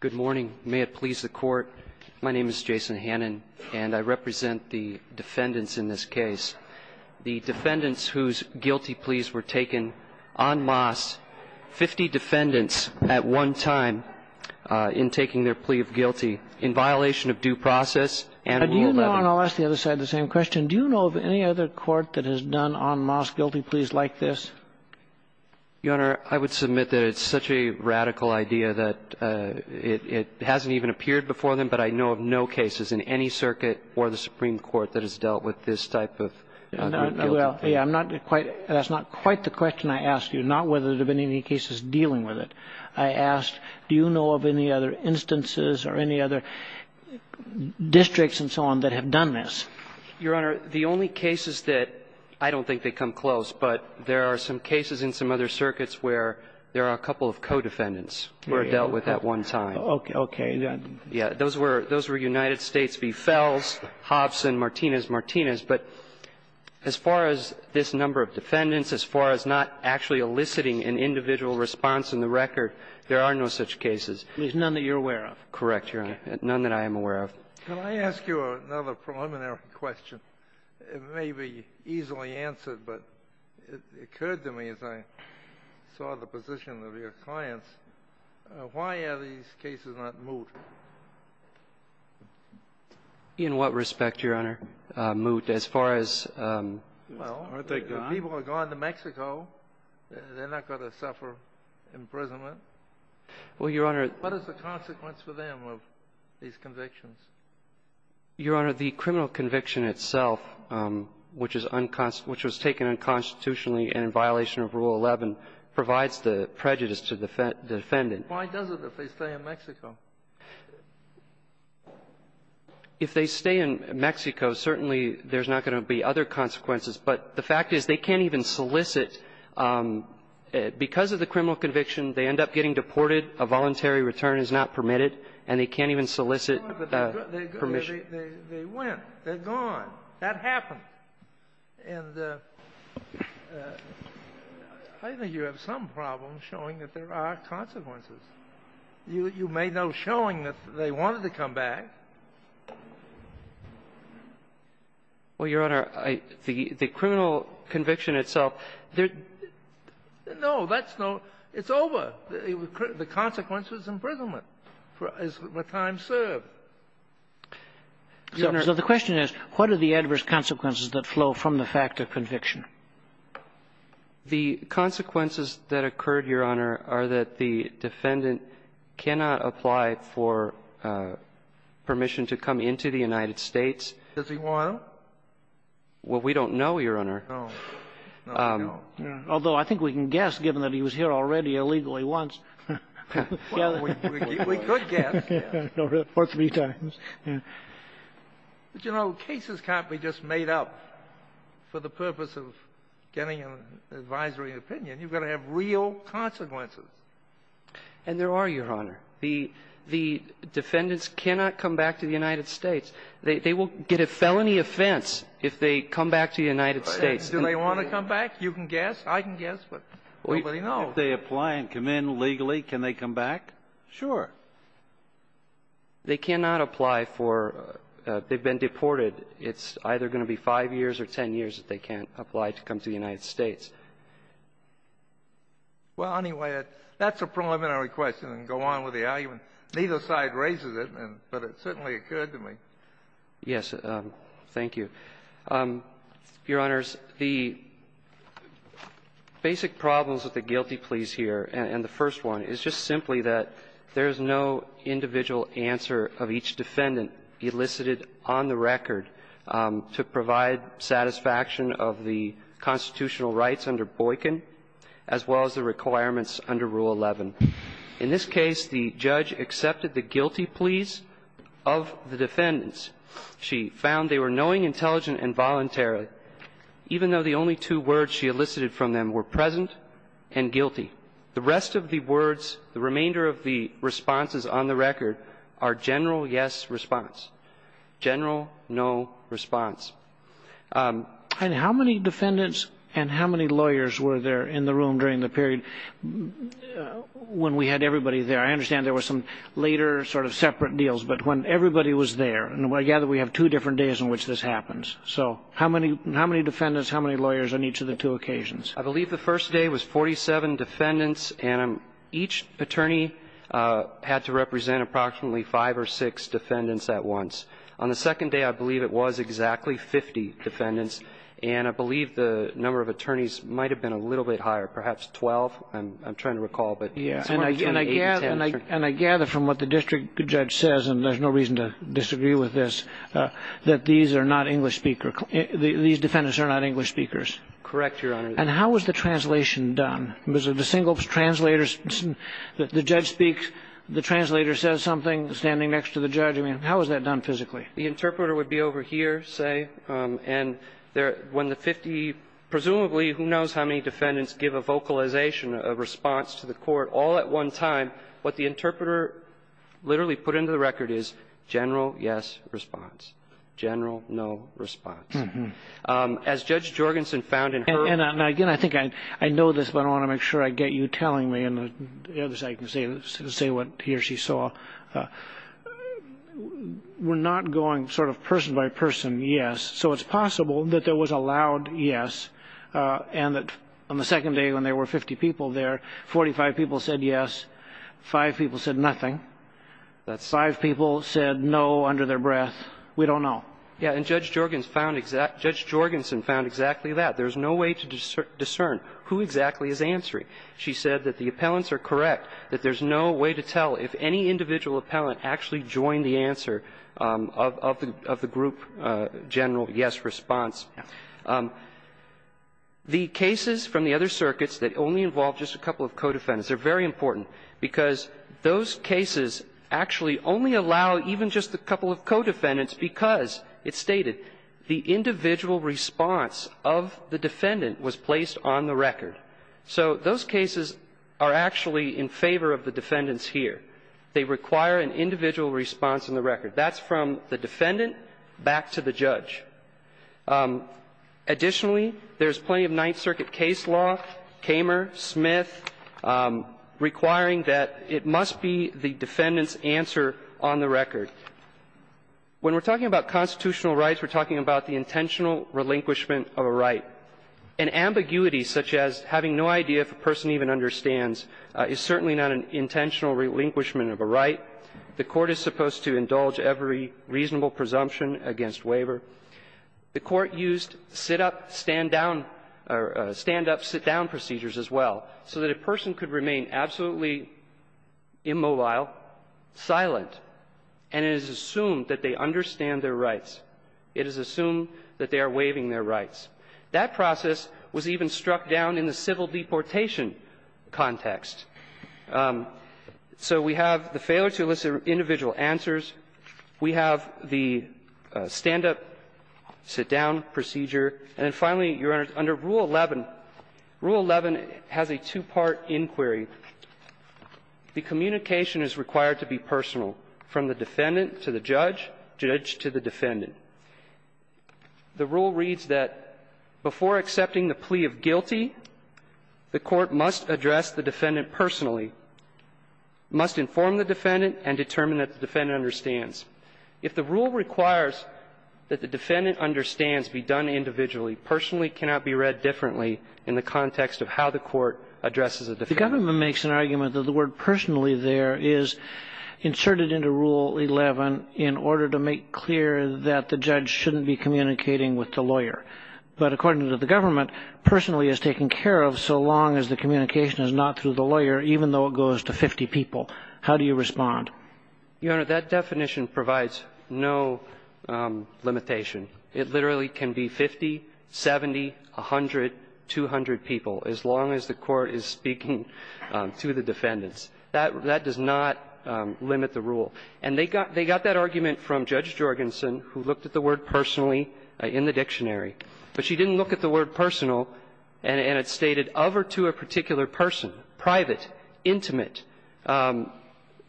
Good morning. May it please the Court. My name is Jason Hannan, and I represent the defendants in this case, the defendants whose guilty pleas were taken en masse, 50 defendants at one time, in taking their plea of guilty, in violation of due process and Rule 11. Do you know, and I'll ask the other side the same question, do you know of any other court that has done en masse guilty pleas like this? Your Honor, I would submit that it's such a radical idea that it hasn't even appeared before them, but I know of no cases in any circuit or the Supreme Court that has dealt with this type of guilty plea. Well, yeah, I'm not quite — that's not quite the question I asked you, not whether there have been any cases dealing with it. I asked, do you know of any other instances or any other districts and so on that have done this? Your Honor, the only cases that — I don't think they come close, but there are some cases in some other circuits where there are a couple of co-defendants who were dealt with at one time. Okay. Yeah. Those were — those were United States v. Fels, Hobson, Martinez-Martinez. But as far as this number of defendants, as far as not actually eliciting an individual response in the record, there are no such cases. There's none that you're aware of? Correct, Your Honor. None that I am aware of. Can I ask you another preliminary question? It may be easily answered, but it occurred to me as I saw the position of your clients, why are these cases not moot? In what respect, Your Honor? Moot as far as — Well, people have gone to Mexico. They're not going to suffer imprisonment. Well, Your Honor, what is the consequence for them of these convictions? Your Honor, the criminal conviction itself, which is unconstitutional — which was taken unconstitutionally and in violation of Rule 11, provides the prejudice to the defendant. Why does it if they stay in Mexico? If they stay in Mexico, certainly there's not going to be other consequences. But the fact is they can't even solicit. Because of the criminal conviction, they end up getting deported. A voluntary return is not permitted, and they can't even solicit. They went. They're gone. That happened. And I think you have some problem showing that there are consequences. You made no showing that they wanted to come back. Well, Your Honor, I — the criminal conviction itself, there — no, that's no — it's over. The consequence was imprisonment as the time served. So the question is, what are the adverse consequences that flow from the fact of conviction? The consequences that occurred, Your Honor, are that the defendant cannot apply for permission to come into the United States. Does he want to? Well, we don't know, Your Honor. No. No. Although I think we can guess, given that he was here already illegally once. We could guess. For three times. But, you know, cases can't be just made up for the purpose of getting an advisory opinion. You've got to have real consequences. And there are, Your Honor. The defendants cannot come back to the United States. They will get a felony offense if they come back to the United States. Do they want to come back? You can guess. I can guess, but nobody knows. If they apply and come in legally, can they come back? Sure. They cannot apply for — they've been deported. It's either going to be five years or ten years that they can't apply to come to the United States. Well, anyway, that's a preliminary question and go on with the argument. Neither side raises it, but it certainly occurred to me. Yes. Thank you. Your Honors, the basic problems with the guilty pleas here, and the first one, is just simply that there is no individual answer of each defendant elicited on the record to provide satisfaction of the constitutional rights under Boykin as well as the requirements under Rule 11. In this case, the judge accepted the guilty pleas of the defendants. She found they were knowing, intelligent, and voluntary, even though the only two words she elicited from them were present and guilty. The rest of the words, the remainder of the responses on the record, are general yes response, general no response. And how many defendants and how many lawyers were there in the room during the period when we had everybody there? I understand there were some later sort of separate deals, but when everybody was there, and I gather we have two different days in which this happens. So how many defendants, how many lawyers on each of the two occasions? I believe the first day was 47 defendants, and each attorney had to represent approximately five or six defendants at once. On the second day, I believe it was exactly 50 defendants, and I believe the number of attorneys might have been a little bit higher, perhaps 12. And I gather from what the district judge says, and there's no reason to disagree with this, that these are not English speakers. These defendants are not English speakers. Correct, Your Honor. And how was the translation done? Was it a single translator? The judge speaks, the translator says something standing next to the judge. I mean, how was that done physically? The interpreter would be over here, say, and when the 50, presumably, who knows how many defendants, give a vocalization, a response to the court all at one time, what the interpreter literally put into the record is general yes response, general no response. As Judge Jorgensen found in her ---- And again, I think I know this, but I want to make sure I get you telling me, and the other side can say what he or she saw. We're not going sort of person by person, yes. So it's possible that there was a loud yes and that on the second day when there were 50 people there, 45 people said yes, 5 people said nothing, that 5 people said no under their breath. We don't know. Yeah, and Judge Jorgensen found exactly that. There's no way to discern who exactly is answering. She said that the appellants are correct, that there's no way to tell if any individual is answering, but there is a general yes response. The cases from the other circuits that only involve just a couple of co-defendants are very important because those cases actually only allow even just a couple of co-defendants because it's stated the individual response of the defendant was placed on the record. So those cases are actually in favor of the defendants here. They require an individual response in the record. That's from the defendant back to the judge. Additionally, there's plenty of Ninth Circuit case law, Kamer, Smith, requiring that it must be the defendant's answer on the record. When we're talking about constitutional rights, we're talking about the intentional relinquishment of a right. An ambiguity such as having no idea if a person even understands is certainly not an intentional relinquishment of a right. The Court is supposed to indulge every reasonable presumption against waiver. The Court used sit-up, stand-down or stand-up, sit-down procedures as well so that a person could remain absolutely immobile, silent, and it is assumed that they understand their rights. It is assumed that they are waiving their rights. That process was even struck down in the civil deportation context. So we have the failure to elicit individual answers. We have the stand-up, sit-down procedure. And then finally, Your Honors, under Rule 11, Rule 11 has a two-part inquiry. The communication is required to be personal, from the defendant to the judge, judge to the defendant. The rule reads that before accepting the plea of guilty, the Court must address the defendant personally, must inform the defendant and determine that the defendant understands. If the rule requires that the defendant understands be done individually, personally cannot be read differently in the context of how the Court addresses a defendant. The government makes an argument that the word personally there is inserted into Rule 11 in order to make clear that the judge shouldn't be communicating with the lawyer. But according to the government, personally is taken care of so long as the communication is not through the lawyer, even though it goes to 50 people. How do you respond? Your Honor, that definition provides no limitation. It literally can be 50, 70, 100, 200 people, as long as the Court is speaking to the defendants. That does not limit the rule. And they got that argument from Judge Jorgensen, who looked at the word personally in the dictionary. But she didn't look at the word personal, and it stated of or to a particular person, private, intimate.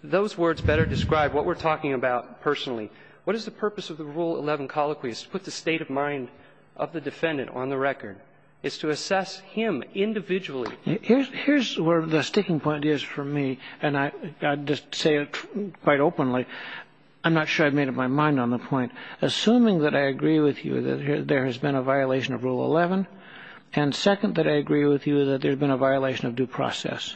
Those words better describe what we're talking about personally. What is the purpose of the Rule 11 colloquy? It's to put the state of mind of the defendant on the record. It's to assess him individually. Here's where the sticking point is for me, and I'd just say it quite openly. I'm not sure I've made up my mind on the point. Assuming that I agree with you that there has been a violation of Rule 11, and second that I agree with you that there's been a violation of due process,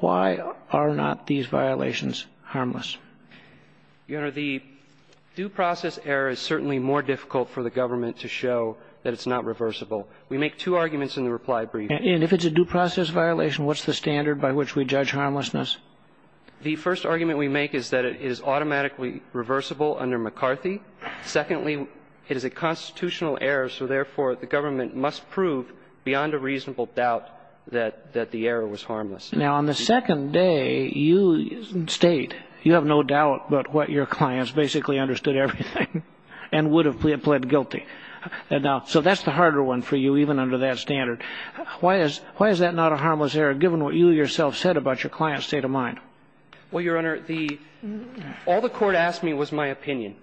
why are not these violations harmless? Your Honor, the due process error is certainly more difficult for the government to show that it's not reversible. We make two arguments in the reply brief. And if it's a due process violation, what's the standard by which we judge harmlessness? The first argument we make is that it is automatically reversible under McCarthy. Secondly, it is a constitutional error, so, therefore, the government must prove beyond a reasonable doubt that the error was harmless. Now, on the second day, you state you have no doubt about what your clients basically understood everything and would have pled guilty. So that's the harder one for you, even under that standard. Why is that not a harmless error, given what you yourself said about your client's state of mind? Well, Your Honor, all the court asked me was my opinion.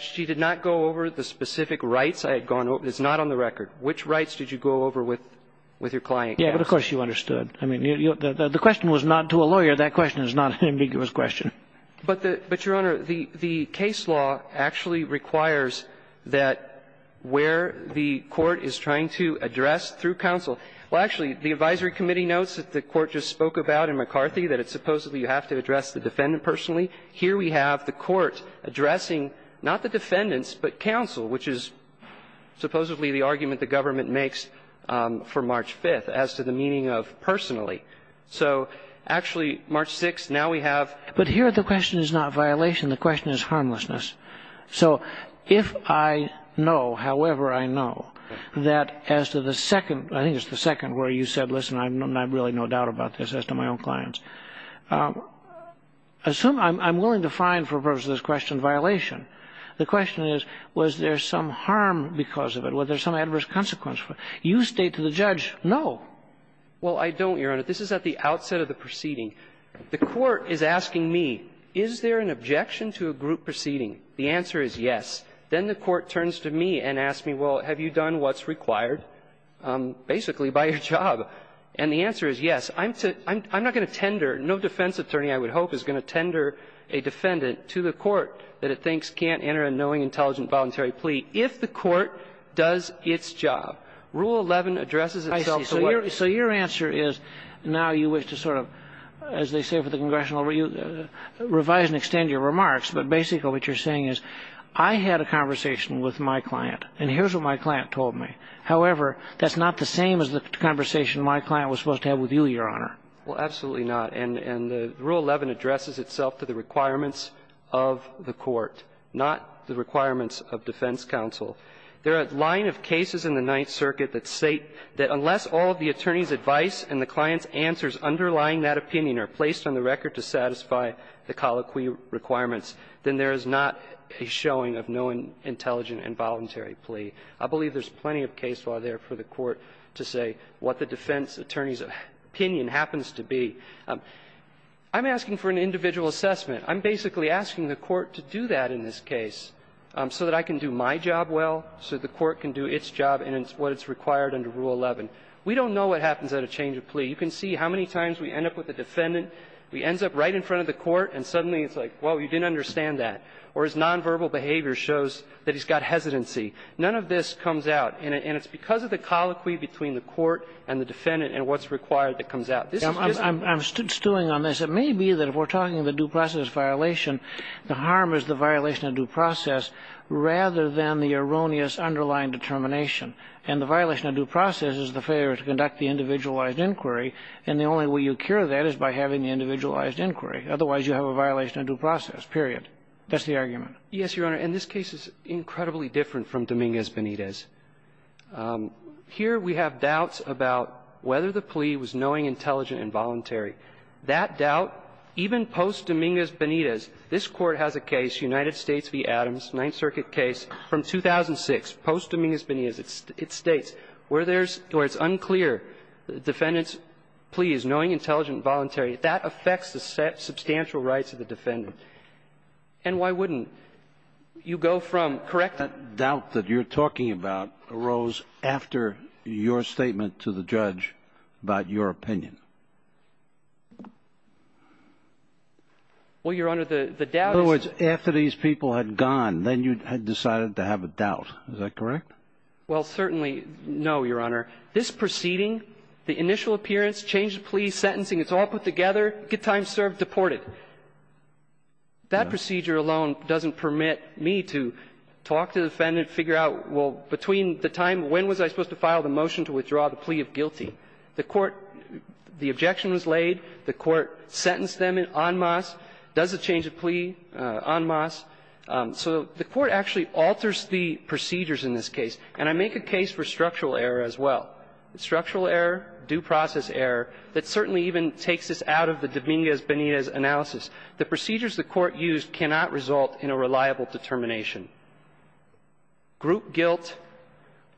She did not go over the specific rights I had gone over. It's not on the record. Which rights did you go over with your client? Yeah, but, of course, you understood. I mean, the question was not to a lawyer. That question is not an ambiguous question. But, Your Honor, the case law actually requires that where the court is trying to address through counsel. Well, actually, the advisory committee notes that the court just spoke about in McCarthy that it's supposedly you have to address the defendant personally. Here we have the court addressing not the defendants, but counsel, which is supposedly the argument the government makes for March 5th as to the meaning of personally. So, actually, March 6th, now we have. But here the question is not violation. The question is harmlessness. So if I know, however I know, that as to the second, I think it's the second where you said, listen, I really have no doubt about this as to my own clients. Assume I'm willing to fine for the purpose of this question violation. The question is, was there some harm because of it? Was there some adverse consequence? You state to the judge, no. Well, I don't, Your Honor. This is at the outset of the proceeding. The court is asking me, is there an objection to a group proceeding? The answer is yes. Then the court turns to me and asks me, well, have you done what's required, basically, by your job? And the answer is yes. I'm not going to tender, no defense attorney I would hope is going to tender a defendant to the court that it thinks can't enter a knowing, intelligent, voluntary plea if the court does its job. Rule 11 addresses itself to what? So your answer is, now you wish to sort of, as they say for the congressional review, revise and extend your remarks. But basically what you're saying is, I had a conversation with my client, and here's what my client told me. However, that's not the same as the conversation my client was supposed to have with you, Your Honor. Well, absolutely not. And the Rule 11 addresses itself to the requirements of the court, not the requirements of defense counsel. There are a line of cases in the Ninth Circuit that say that unless all of the attorney's advice and the client's answers underlying that opinion are placed on the record to satisfy the colloquy requirements, then there is not a showing of knowing, intelligent, and voluntary plea. I believe there's plenty of case law there for the court to say what the defense attorney's opinion happens to be. I'm asking for an individual assessment. I'm basically asking the court to do that in this case, so that I can do my job well, so that the court can do its job, and it's what is required under Rule 11. We don't know what happens at a change of plea. You can see how many times we end up with a defendant. He ends up right in front of the court, and suddenly it's like, well, you didn't understand that. Or his nonverbal behavior shows that he's got hesitancy. None of this comes out. And it's because of the colloquy between the court and the defendant and what's required that comes out. I'm stewing on this. It may be that if we're talking the due process violation, the harm is the violation of due process rather than the erroneous underlying determination. And the violation of due process is the failure to conduct the individualized inquiry, and the only way you cure that is by having the individualized inquiry. Otherwise, you have a violation of due process, period. That's the argument. Yes, Your Honor. And this case is incredibly different from Dominguez-Benitez. Here we have doubts about whether the plea was knowing, intelligent, and voluntary. That doubt, even post-Dominguez-Benitez, this Court has a case, United States v. Adams, Ninth Circuit case from 2006, post-Dominguez-Benitez. It states where there's unclear, the defendant's plea is knowing, intelligent, and voluntary. That affects the substantial rights of the defendant. And why wouldn't you go from, correct me. The doubt that you're talking about arose after your statement to the judge about your opinion? Well, Your Honor, the doubt is that you decided to have a doubt, is that correct? Well, certainly, no, Your Honor. This proceeding, the initial appearance, change of plea, sentencing, it's all put together, good time served, deported. That procedure alone doesn't permit me to talk to the defendant, figure out, well, between the time, when was I supposed to file the motion to withdraw the plea of guilty? The Court, the objection was laid. The Court sentenced them en masse. Does it change the plea en masse? So the Court actually alters the procedures in this case. And I make a case for structural error as well. Structural error, due process error, that certainly even takes us out of the Dominguez-Benitez analysis. The procedures the Court used cannot result in a reliable determination. Group guilt,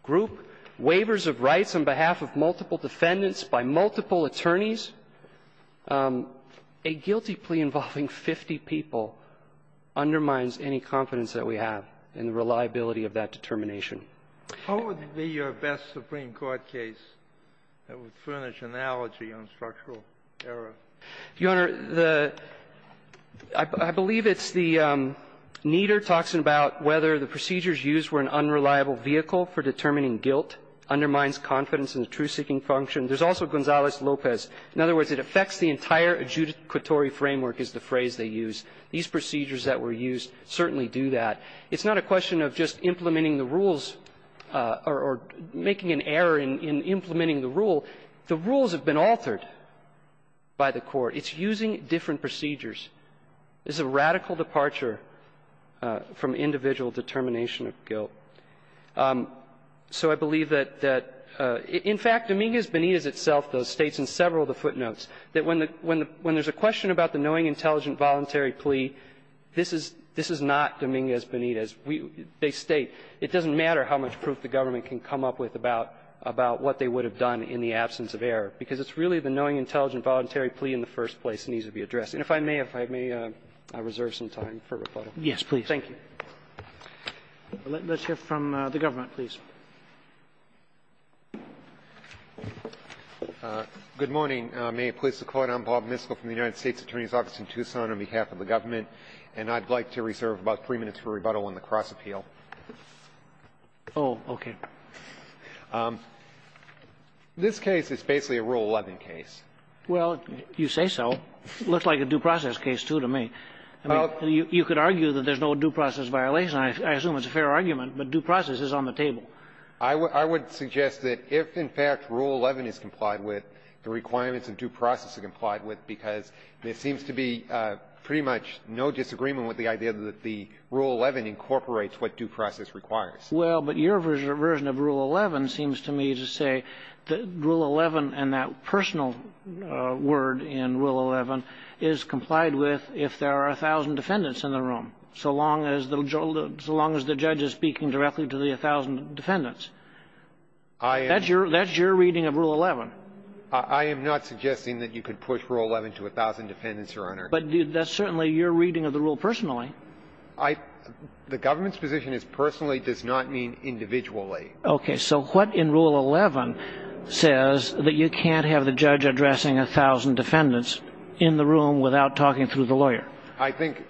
group waivers of rights on behalf of multiple defendants by multiple attorneys, a guilty plea involving 50 people undermines any confidence that we have in the reliability of that determination. How would it be your best Supreme Court case that would furnish analogy on structural error? Your Honor, the – I believe it's the Nieder talks about whether the procedures used were an unreliable vehicle for determining guilt, undermines confidence in the truth-seeking function. There's also Gonzales-Lopez. In other words, it affects the entire adjudicatory framework is the phrase they use. These procedures that were used certainly do that. It's not a question of just implementing the rules or making an error in implementing the rule. The rules have been altered by the Court. It's using different procedures. This is a radical departure from individual determination of guilt. So I believe that – in fact, Dominguez-Benitez itself, though, states in several of the footnotes that when the – when there's a question about the knowing, intelligent, voluntary plea, this is – this is not Dominguez-Benitez. They state it doesn't matter how much proof the government can come up with about what they would have done in the absence of error, because it's really the knowing, intelligent, voluntary plea in the first place that needs to be addressed. And if I may, if I may, I'll reserve some time for rebuttal. Roberts. Yes, please. Thank you. Let's hear from the government, please. Good morning. May it please the Court. I'm Bob Misko from the United States Attorney's Office in Tucson on behalf of the government, and I'd like to reserve about three minutes for rebuttal on the cross appeal. Oh, okay. This case is basically a Rule 11 case. Well, you say so. It looks like a due process case, too, to me. I mean, you could argue that there's no due process violation. I assume it's a fair argument, but due process is on the table. I would suggest that if, in fact, Rule 11 is complied with, the requirements of due process are complied with, because there seems to be pretty much no disagreement with the idea that the Rule 11 incorporates what due process requires. Well, but your version of Rule 11 seems to me to say that Rule 11 and that personal word in Rule 11 is complied with if there are 1,000 defendants in the room, so long as the judge is speaking directly to the 1,000 defendants. That's your reading of Rule 11. I am not suggesting that you could push Rule 11 to 1,000 defendants, Your Honor. But that's certainly your reading of the rule personally. I — the government's position is personally does not mean individually. Okay. So what in Rule 11 says that you can't have the judge addressing 1,000 defendants in the room without talking through the lawyer? I think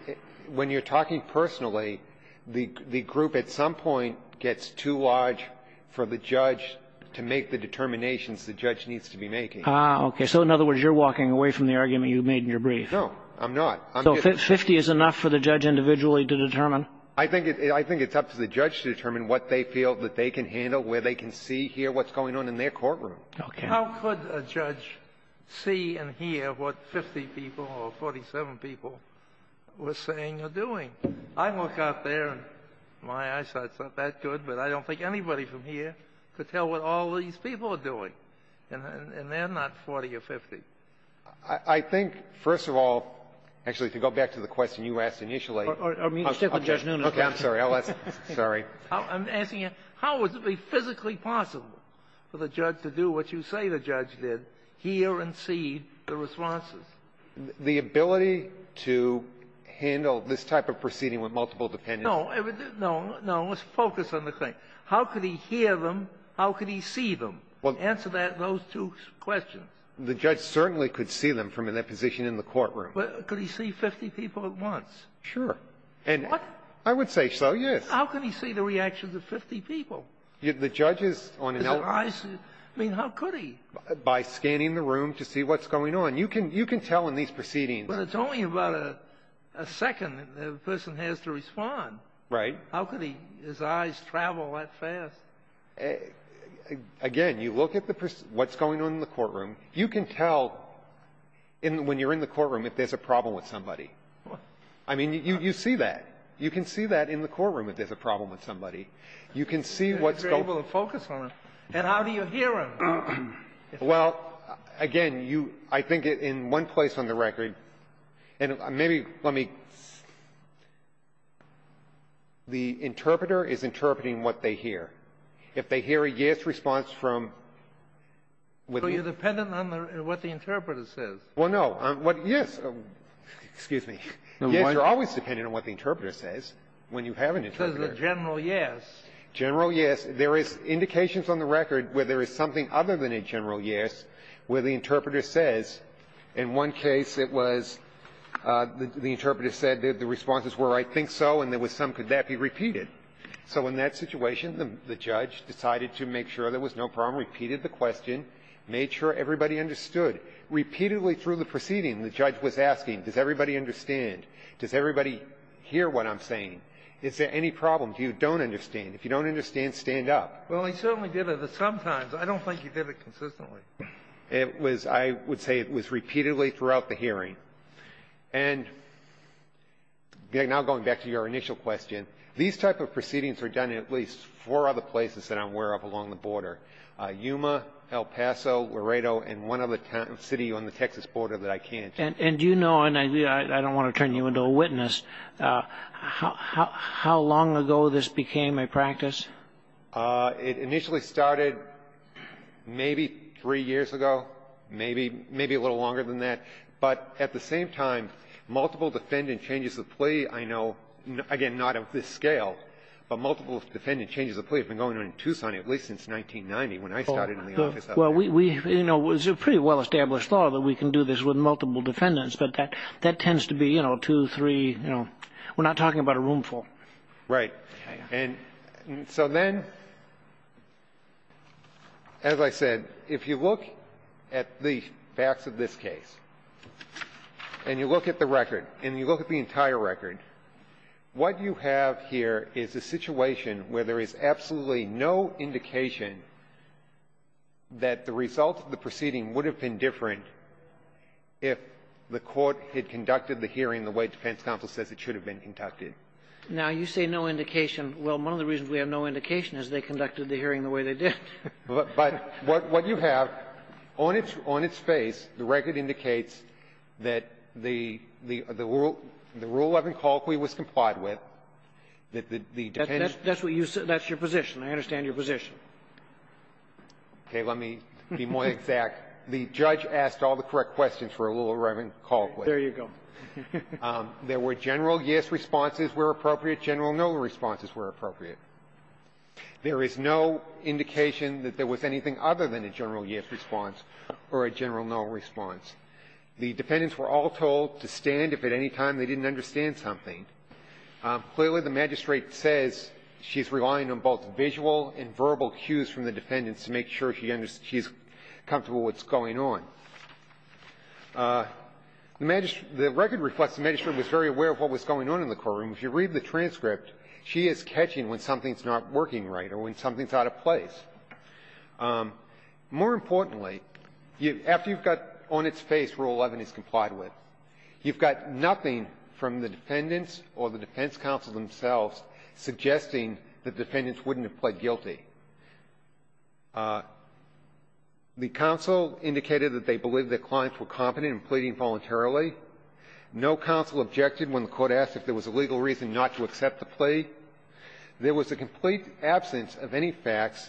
when you're talking personally, the group at some point gets too large for the judge to make the determinations the judge needs to be making. Ah, okay. So in other words, you're walking away from the argument you made in your brief. No, I'm not. So 50 is enough for the judge individually to determine? I think it's up to the judge to determine what they feel that they can handle, where they can see, hear what's going on in their courtroom. Okay. How could a judge see and hear what 50 people or 47 people were saying or doing? I look out there, and my eyesight's not that good, but I don't think anybody from here could tell what all these people are doing, and they're not 40 or 50. I think, first of all, actually, to go back to the question you asked initially Or stick with Judge Nunez. Okay. I'm sorry. I'll ask. Sorry. I'm asking you, how is it physically possible for the judge to do what you say the judge did, hear and see the responses? The ability to handle this type of proceeding with multiple defendants. No. No. No. Let's focus on the thing. How could he hear them? How could he see them? Answer that and those two questions. The judge certainly could see them from in that position in the courtroom. But could he see 50 people at once? Sure. And I would say so, yes. How could he see the reactions of 50 people? The judge is on an elderly. I mean, how could he? By scanning the room to see what's going on. You can tell in these proceedings. But it's only about a second that the person has to respond. Right. How could his eyes travel that fast? Again, you look at the person, what's going on in the courtroom. You can tell when you're in the courtroom if there's a problem with somebody. I mean, you see that. You can see that in the courtroom if there's a problem with somebody. You can see what's going on. You're able to focus on them. And how do you hear them? Well, again, you – I think in one place on the record, and maybe let me – the If they hear a yes response from – So you're dependent on what the interpreter says. Well, no. Yes. Excuse me. Yes, you're always dependent on what the interpreter says when you have an interpreter. Says a general yes. General yes. There is indications on the record where there is something other than a general yes where the interpreter says, in one case it was the interpreter said that the responses were, I think so, and there was some, could that be repeated. So in that situation, the judge decided to make sure there was no problem, repeated the question, made sure everybody understood. Repeatedly through the proceeding, the judge was asking, does everybody understand? Does everybody hear what I'm saying? Is there any problem you don't understand? If you don't understand, stand up. Well, he certainly did it, but sometimes. I don't think he did it consistently. It was – I would say it was repeatedly throughout the hearing. And now going back to your initial question, these type of proceedings are done in at least four other places that I'm aware of along the border, Yuma, El Paso, Laredo, and one other city on the Texas border that I can't. And do you know, and I don't want to turn you into a witness, how long ago this became a practice? It initially started maybe three years ago, maybe a little longer than that. But at the same time, multiple defendant changes of plea, I know, again, not of this scale, but multiple defendant changes of plea have been going on in Tucson at least since 1990 when I started in the office up there. Well, we – you know, it's a pretty well-established law that we can do this with multiple defendants, but that tends to be, you know, two, three, you know, we're not talking about a roomful. Right. And so then, as I said, if you look at the facts of this case, and you look at the record, and you look at the entire record, what you have here is a situation where there is absolutely no indication that the result of the proceeding would have been different if the Court had conducted the hearing the way defense counsel says it should have been conducted. Now, you say no indication. Well, one of the reasons we have no indication is they conducted the hearing the way they did. But what you have on its face, the record indicates that the rule 11 colloquy was complied with, that the defendant's ---- That's what you said. That's your position. I understand your position. Okay. Let me be more exact. The judge asked all the correct questions for Rule 11 colloquy. There you go. There were general yes responses where appropriate, general no responses where appropriate. There is no indication that there was anything other than a general yes response or a general no response. The defendants were all told to stand if at any time they didn't understand something. Clearly, the magistrate says she's relying on both visual and verbal cues from the defendants to make sure she's comfortable with what's going on. The magistrate ---- the record reflects the magistrate was very aware of what was going on in the courtroom. If you read the transcript, she is catching when something's not working right or when something's out of place. More importantly, after you've got on its face Rule 11 is complied with, you've got nothing from the defendants or the defense counsel themselves suggesting the defendants wouldn't have pled guilty. The counsel indicated that they believed the clients were competent in pleading voluntarily. No counsel objected when the court asked if there was a legal reason not to accept the plea. There was a complete absence of any facts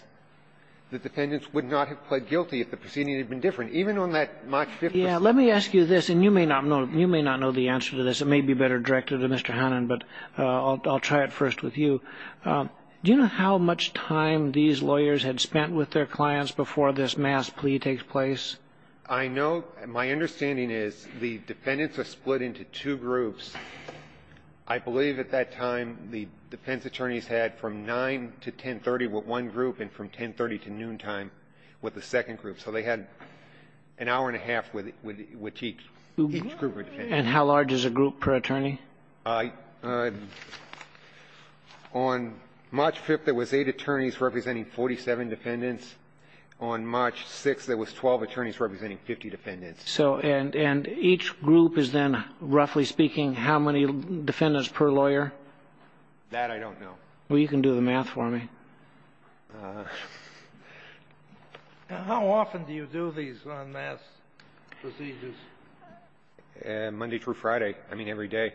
that defendants would not have pled guilty if the proceeding had been different. Even on that March 5th ---- Kagan. Let me ask you this, and you may not know the answer to this. It may be better directed to Mr. Hannan, but I'll try it first with you. Do you know how much time these lawyers had spent with their clients before this mass plea takes place? I know my understanding is the defendants are split into two groups. I believe at that time the defense attorneys had from 9 to 1030 with one group and from 1030 to noontime with the second group. So they had an hour and a half with each group of defendants. And how large is a group per attorney? I ---- on March 5th, there was eight attorneys representing 47 defendants. On March 6th, there was 12 attorneys representing 50 defendants. So and each group is then, roughly speaking, how many defendants per lawyer? That I don't know. Well, you can do the math for me. How often do you do these unmasked procedures? Monday through Friday. I mean, every day.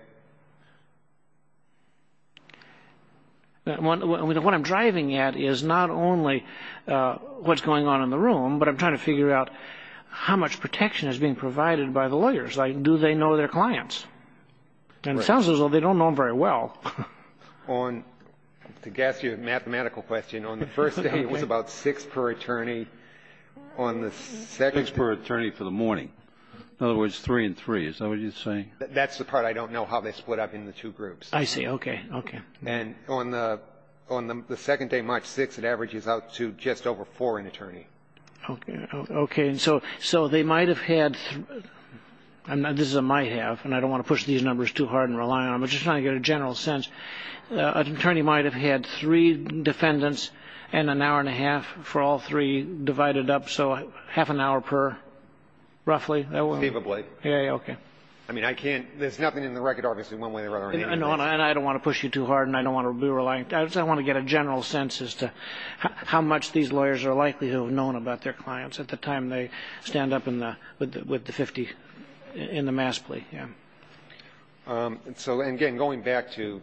What I'm driving at is not only what's going on in the room, but I'm trying to figure out how much protection is being provided by the lawyers. Like, do they know their clients? And it sounds as though they don't know them very well. On, to guess your mathematical question, on the first day it was about six per attorney. Six per attorney for the morning. Is that what you're saying? That's the part I don't know how they split up into two groups. I see. Okay. Okay. And on the second day, March 6th, it averages out to just over four in attorney. Okay. So they might have had, and this is a might have, and I don't want to push these numbers too hard and rely on them, but just trying to get a general sense. An attorney might have had three defendants and an hour and a half for all three divided up. So half an hour per, roughly. Seemably. Yeah. Okay. I mean, I can't, there's nothing in the record, obviously, one way or another. And I don't want to push you too hard, and I don't want to be reliant. I just want to get a general sense as to how much these lawyers are likely to have known about their clients at the time they stand up in the, with the 50, in the mass plea. Yeah. So, and again, going back to,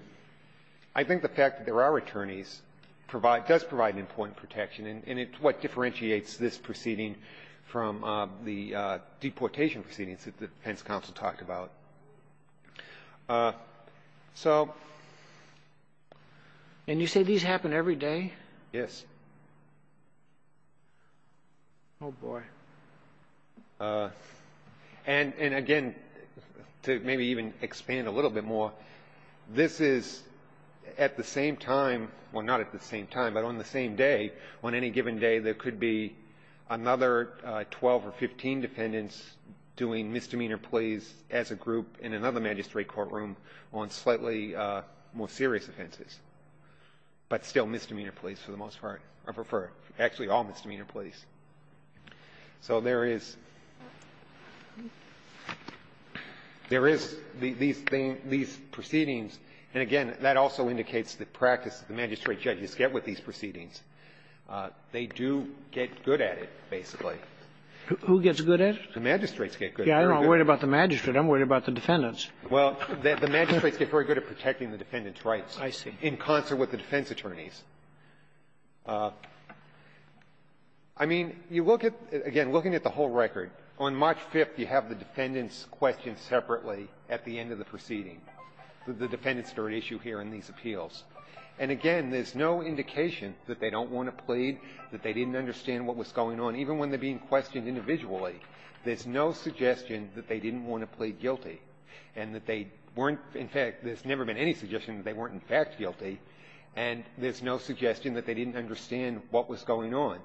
I think the fact that there are attorneys provide, does provide an important protection. And it's what differentiates this proceeding from the deportation proceedings that the defense counsel talked about. So. And you say these happen every day? Yes. Oh, boy. And again, to maybe even expand a little bit more, this is at the same time, well, not at the same time, but on the same day, on any given day, there could be another 12 or 15 defendants doing misdemeanor pleas as a group in another magistrate courtroom on slightly more serious offenses. But still misdemeanor pleas for the most part, or for actually all misdemeanor pleas. So there is, there is these things, these proceedings. And again, that also indicates the practice that the magistrate judges get with these proceedings. They do get good at it, basically. Who gets good at it? The magistrates get good. Yeah. I'm not worried about the magistrate. I'm worried about the defendants. Well, the magistrates get very good at protecting the defendant's rights. I see. In concert with the defense attorneys. I mean, you look at, again, looking at the whole record, on March 5th, you have the defendants questioned separately at the end of the proceeding. The defendants are at issue here in these appeals. And again, there's no indication that they don't want to plead, that they didn't understand what was going on. Even when they're being questioned individually, there's no suggestion that they didn't want to plead guilty. And that they weren't, in fact, there's never been any suggestion that they weren't, in fact, guilty. And there's no suggestion that they didn't understand what was going on.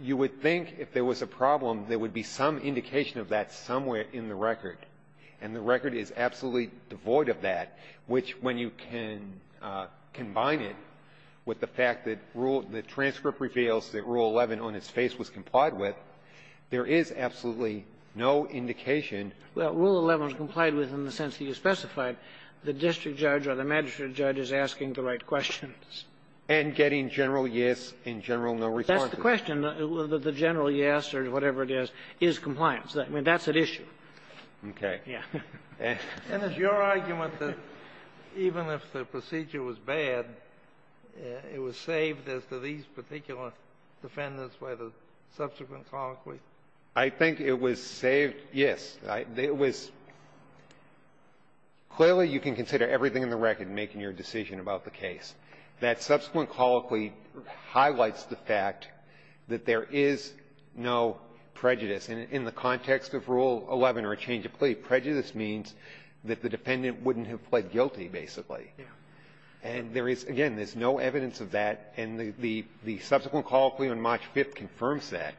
You would think if there was a problem, there would be some indication of that somewhere in the record. And the record is absolutely devoid of that, which, when you can combine it with the fact that rule of the transcript reveals that Rule 11 on its face was complied with, there is absolutely no indication. Well, Rule 11 was complied with in the sense that you specified, the district judge or the magistrate judge is asking the right questions. And getting general yes and general no responses. That's the question, whether the general yes or whatever it is, is compliance. I mean, that's at issue. Okay. Yeah. And is your argument that even if the procedure was bad, it was saved as to these particular defendants, whether subsequent colloquy? I think it was saved, yes. It was — clearly, you can consider everything in the record in making your decision about the case. That subsequent colloquy highlights the fact that there is no prejudice. And in the context of Rule 11 or a change of plea, prejudice means that the defendant wouldn't have pled guilty, basically. And there is — again, there's no evidence of that. And the subsequent colloquy on March 5th confirms that.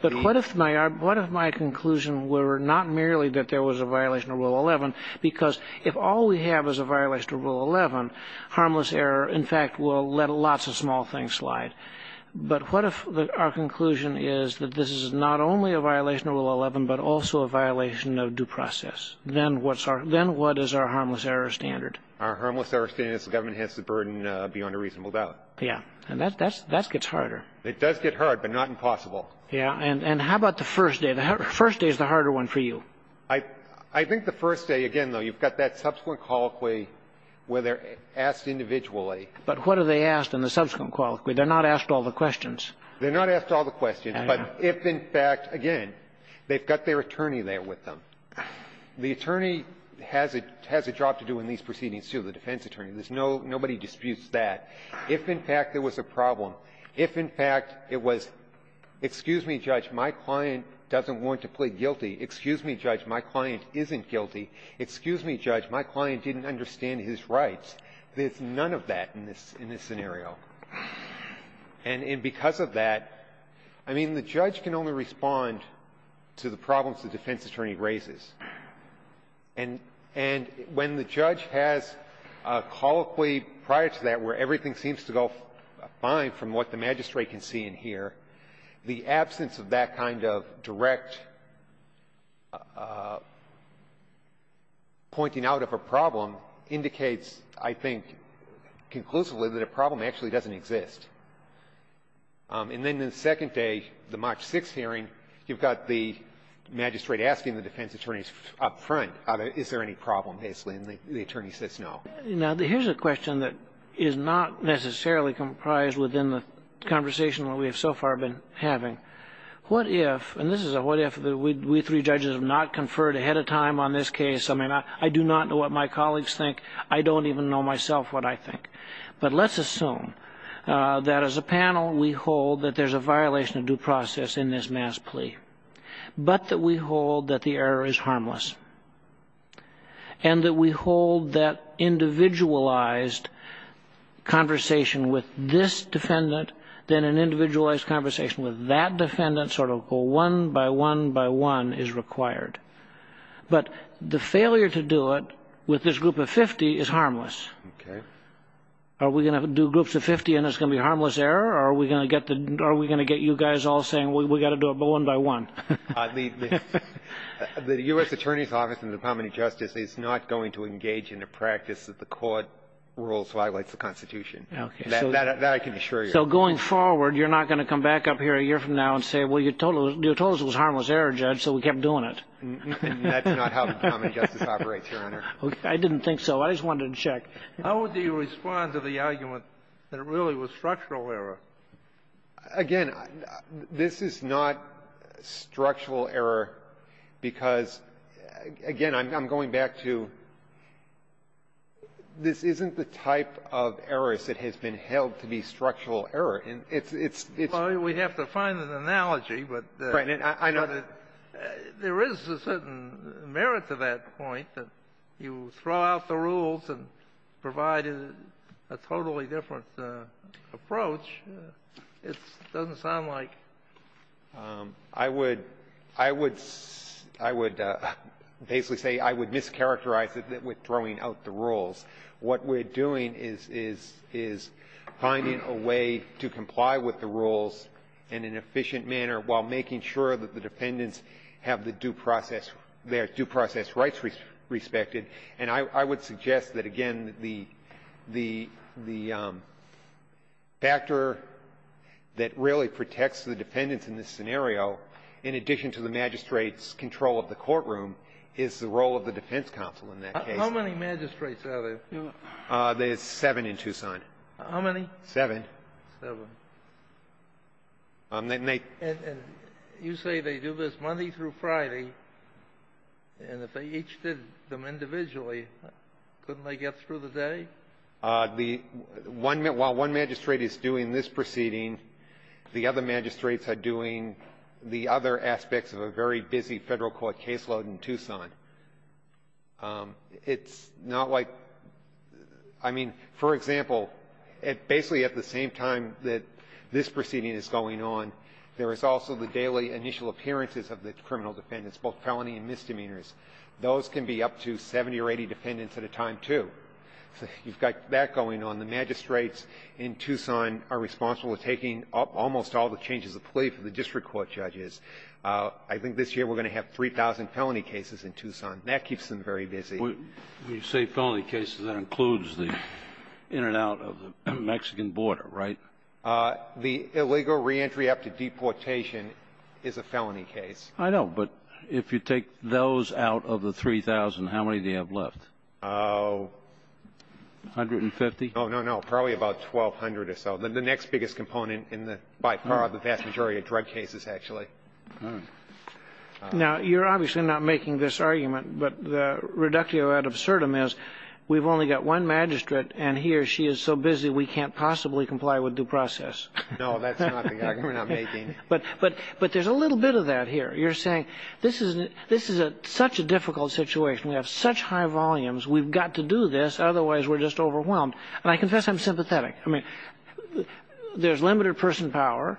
But what if my — what if my conclusion were not merely that there was a violation of Rule 11, because if all we have is a violation of Rule 11, harmless error, in fact, will let lots of small things slide. But what if our conclusion is that this is not only a violation of Rule 11, but also a violation of due process? Then what's our — then what is our harmless error standard? Our harmless error standard is the government has to burden beyond a reasonable doubt. Yeah. And that's — that gets harder. It does get hard, but not impossible. Yeah. And how about the first day? The first day is the harder one for you. I think the first day, again, though, you've got that subsequent colloquy where they're asked individually. But what are they asked in the subsequent colloquy? They're not asked all the questions. They're not asked all the questions. But if, in fact, again, they've got their attorney there with them. The attorney has a — has a job to do in these proceedings, too, the defense attorney. There's no — nobody disputes that. If, in fact, there was a problem, if, in fact, it was, excuse me, Judge, my client doesn't want to plead guilty, excuse me, Judge, my client isn't guilty, excuse me, Judge, my client didn't understand his rights, there's none of that in this — in this scenario. And in — because of that, I mean, the judge can only respond to the problems the defense attorney raises. And — and when the judge has a colloquy prior to that where everything seems to go fine from what the magistrate can see and hear, the absence of that kind of direct pointing out of a problem indicates, I think, conclusively, that a problem actually doesn't exist. And then the second day, the March 6th hearing, you've got the magistrate asking the defense attorney up front, is there any problem, basically, and the attorney says no. Now, here's a question that is not necessarily comprised within the conversation that we have so far been having. What if — and this is a what if — that we three judges have not conferred ahead of time on this case? I mean, I do not know what my colleagues think. I don't even know myself what I think. But let's assume that as a panel, we hold that there's a violation of due process in this mass plea, but that we hold that the error is harmless, and that we hold that individualized conversation with this defendant, then an individualized conversation with that defendant, sort of go one by one by one, is required. But the failure to do it with this group of 50 is harmless. Okay. Are we going to do groups of 50 and it's going to be harmless error, or are we going to get the — are we going to get you guys all saying, we got to do it one by one? The U.S. Attorney's Office and the Department of Justice is not going to engage in a practice that the court rules violates the Constitution. Okay. That I can assure you. So going forward, you're not going to come back up here a year from now and say, well, you told us it was harmless error, Judge, so we kept doing it. And that's not how the Department of Justice operates, Your Honor. I didn't think so. I just wanted to check. How would you respond to the argument that it really was structural error? Again, this is not structural error because, again, I'm going back to, this isn't the type of errors that has been held to be structural error. It's — it's — Well, we'd have to find an analogy, but — Right. And I know that — I would — I would — I would basically say I would mischaracterize it with throwing out the rules. What we're doing is — is — is finding a way to comply with the rules in an efficient manner while making sure that the defendants have the due process — their due process rights respected. I would suggest that, again, the — the — the factor that really protects the defendants in this scenario, in addition to the magistrate's control of the courtroom, is the role of the defense counsel in that case. How many magistrates are there? There's seven in Tucson. How many? Seven. Seven. And they — And you say they do this Monday through Friday, and if they each did them individually, couldn't they get through the day? The — while one magistrate is doing this proceeding, the other magistrates are doing the other aspects of a very busy Federal court caseload in Tucson. It's not like — I mean, for example, it — basically at the same time that this proceeding is going on, there is also the daily initial appearances of the criminal defendants, both felony and misdemeanors. Those can be up to 70 or 80 defendants at a time, too. So you've got that going on. The magistrates in Tucson are responsible for taking up almost all the changes of plea for the district court judges. I think this year we're going to have 3,000 felony cases in Tucson. That keeps them very busy. When you say felony cases, that includes the in and out of the Mexican border, right? The illegal reentry up to deportation is a felony case. I know. But if you take those out of the 3,000, how many do you have left? Oh, 150. Oh, no, no. Probably about 1,200 or so. The next biggest component in the — by far, the vast majority of drug cases, actually. Now, you're obviously not making this argument, but the reductio ad absurdum is we've only got one magistrate, and he or she is so busy we can't possibly comply with due process. No, that's not the argument I'm making. But there's a little bit of that here. You're saying this is a — this is such a difficult situation. We have such high volumes. We've got to do this. Otherwise, we're just overwhelmed. And I confess I'm sympathetic. I mean, there's limited person power,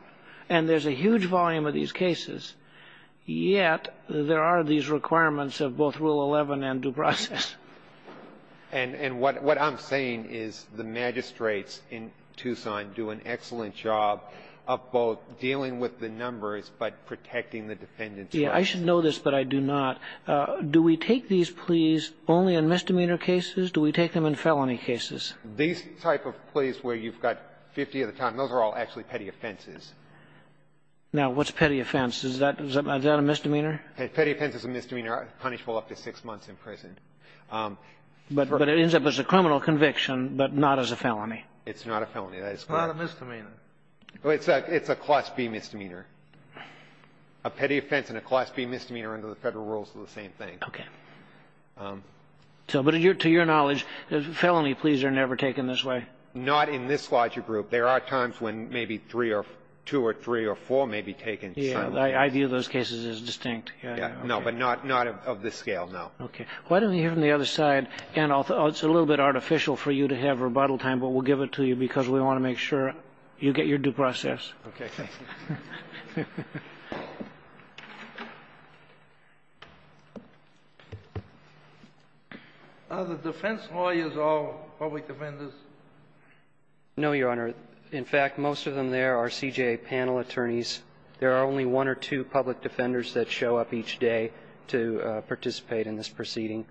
and there's a huge volume of these cases. Yet, there are these requirements of both Rule 11 and due process. And what I'm saying is the magistrates in Tucson do an excellent job of both dealing with the numbers but protecting the defendant's rights. Yeah. I should know this, but I do not. Do we take these pleas only in misdemeanor cases? Do we take them in felony cases? These type of pleas where you've got 50 at a time, those are all actually petty offenses. Now, what's petty offense? Is that a misdemeanor? Petty offense is a misdemeanor, punishable up to six months in prison. But it ends up as a criminal conviction, but not as a felony. It's not a felony. That is correct. It's not a misdemeanor. It's a Class B misdemeanor. A petty offense and a Class B misdemeanor under the federal rules are the same thing. OK. But to your knowledge, felony pleas are never taken this way? Not in this larger group. There are times when maybe three or two or three or four may be taken. Yeah, I view those cases as distinct. No, but not of this scale, no. OK. Why don't we hear from the other side? And it's a little bit artificial for you to have rebuttal time, but we'll give it to you because we want to make sure you get your due process. OK. Are the defense lawyers all public defenders? No, Your Honor. In fact, most of them there are CJA panel attorneys. There are only one or two public defenders that show up each day to participate in this proceeding.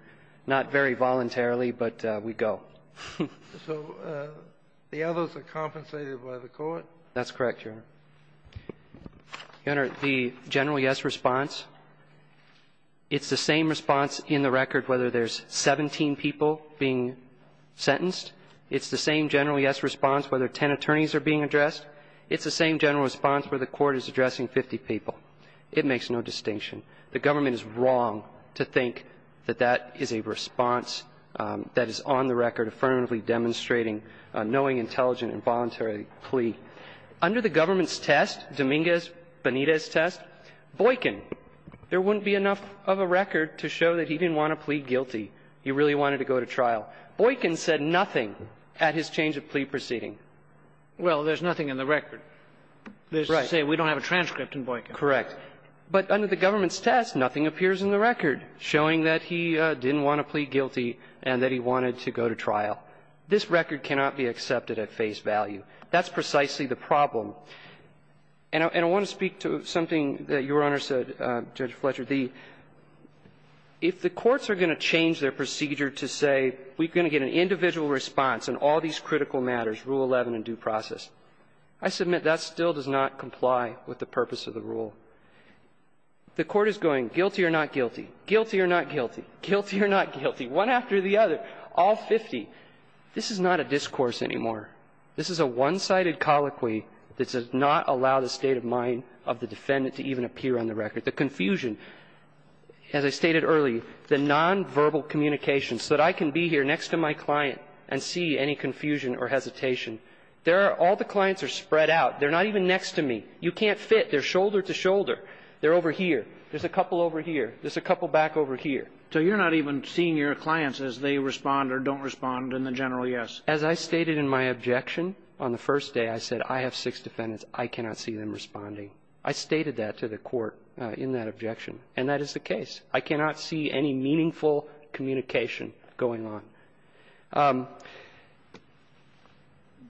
Not very voluntarily, but we go. So the others are compensated by the court? That's correct, Your Honor. Your Honor, the general yes response, it's the same response in the record whether there's 17 people being sentenced. It's the same general yes response whether 10 attorneys are being addressed. It's the same general response where the court is addressing 50 people. It makes no distinction. The government is wrong to think that that is a response that is on the record affirmatively demonstrating knowing, intelligent, and voluntary plea. Under the government's test, Dominguez-Bonita's test, Boykin, there wouldn't be enough of a record to show that he didn't want to plead guilty. He really wanted to go to trial. Boykin said nothing at his change of plea proceeding. Well, there's nothing in the record. Right. There's to say we don't have a transcript in Boykin. Correct. But under the government's test, nothing appears in the record showing that he didn't want to plead guilty and that he wanted to go to trial. This record cannot be accepted at face value. That's precisely the problem. And I want to speak to something that Your Honor said, Judge Fletcher. The – if the courts are going to change their procedure to say we're going to get an individual response on all these critical matters, Rule 11 in due process, I submit that still does not comply with the purpose of the rule. The court is going guilty or not guilty, guilty or not guilty, guilty or not guilty, one after the other, all 50. This is not a discourse anymore. This is a one-sided colloquy that does not allow the state of mind of the defendant to even appear on the record. The confusion, as I stated earlier, the nonverbal communication so that I can be here next to my client and see any confusion or hesitation, there are – all the clients are spread out. They're not even next to me. You can't fit. They're shoulder to shoulder. They're over here. There's a couple over here. There's a couple back over here. So you're not even seeing your clients as they respond or don't respond in the general yes? As I stated in my objection on the first day, I said I have six defendants. I cannot see them responding. I stated that to the court in that objection. And that is the case. I cannot see any meaningful communication going on.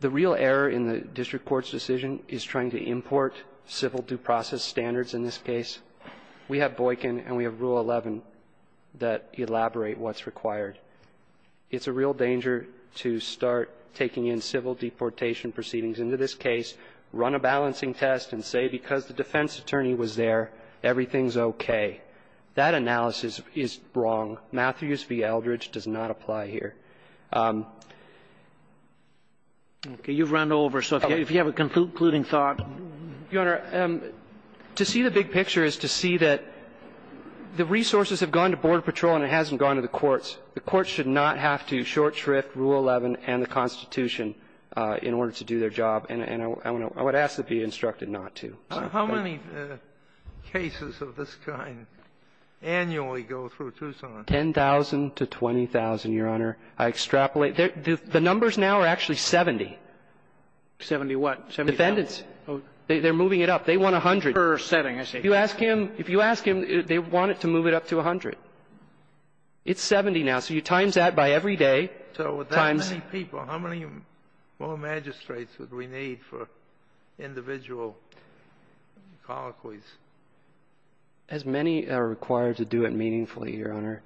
The real error in the district court's decision is trying to import civil due process standards in this case. We have Boykin and we have Rule 11 that elaborate what's required. It's a real danger to start taking in civil deportation proceedings into this case, run a balancing test, and say because the defense attorney was there, everything's okay. That analysis is wrong. Matthews v. Eldridge does not apply here. Okay. You've run over. So if you have a concluding thought. Your Honor, to see the big picture is to see that the resources have gone to Border Patrol and it hasn't gone to the courts. The courts should not have to short shrift Rule 11 and the Constitution in order to do their job. And I would ask to be instructed not to. How many cases of this kind annually go through Tucson? Ten thousand to 20,000, Your Honor. I extrapolate. The numbers now are actually 70. Seventy what? Seventy thousand? Defendants. They're moving it up. They want 100. Per setting, I see. If you ask him, if you ask him, they want it to move it up to 100. It's 70 now. So you times that by every day. So with that many people, how many more magistrates would we need for individual colloquies? As many are required to do it meaningfully, Your Honor.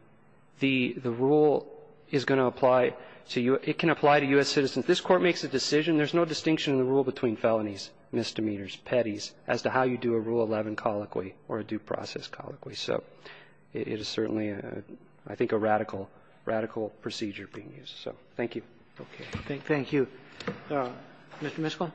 The rule is going to apply to you. It can apply to U.S. citizens. This Court makes a decision. There's no distinction in the rule between felonies, misdemeanors, petties as to how you do a Rule 11 colloquy or a due process colloquy. So it is certainly, I think, a radical, radical procedure being used. So thank you. Thank you. Mr. Miskol?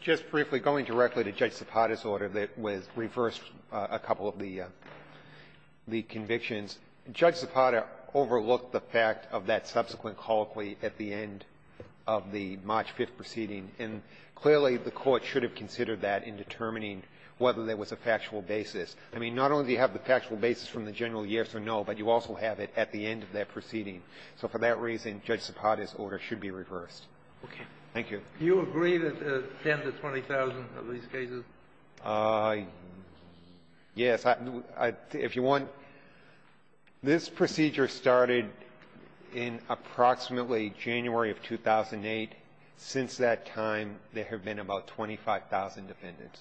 Just briefly, going directly to Judge Zapata's order that was reversed a couple of the convictions, Judge Zapata overlooked the fact of that subsequent colloquy at the end of the March 5th proceeding. And clearly, the Court should have considered that in determining whether there was a factual basis. I mean, not only do you have the factual basis from the general yes or no, but you also have it at the end of that proceeding. So for that reason, Judge Zapata's order should be reversed. Okay. Thank you. Do you agree that there are 10,000 to 20,000 of these cases? Yes. If you want, this procedure started in approximately January of 2008. Since that time, there have been about 25,000 defendants,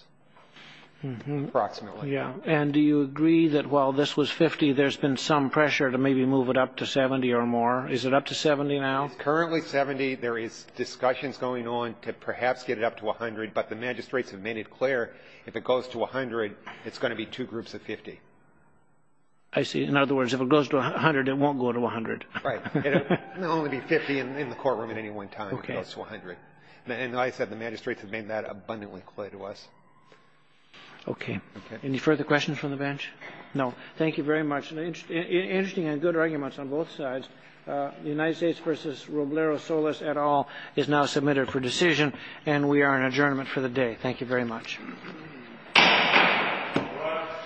approximately. Yeah. And do you agree that while this was 50, there's been some pressure to maybe move it up to 70 or more? Is it up to 70 now? It's currently 70. There is discussions going on to perhaps get it up to 100. But the magistrates have made it clear if it goes to 100, it's going to be two groups of 50. I see. In other words, if it goes to 100, it won't go to 100. Right. It will only be 50 in the courtroom at any one time if it goes to 100. And I said the magistrates have made that abundantly clear to us. Okay. Any further questions from the bench? No. Thank you very much. Interesting and good arguments on both sides. The United States v. Roblero Solis et al. is now submitted for decision. And we are in adjournment for the day. Thank you very much.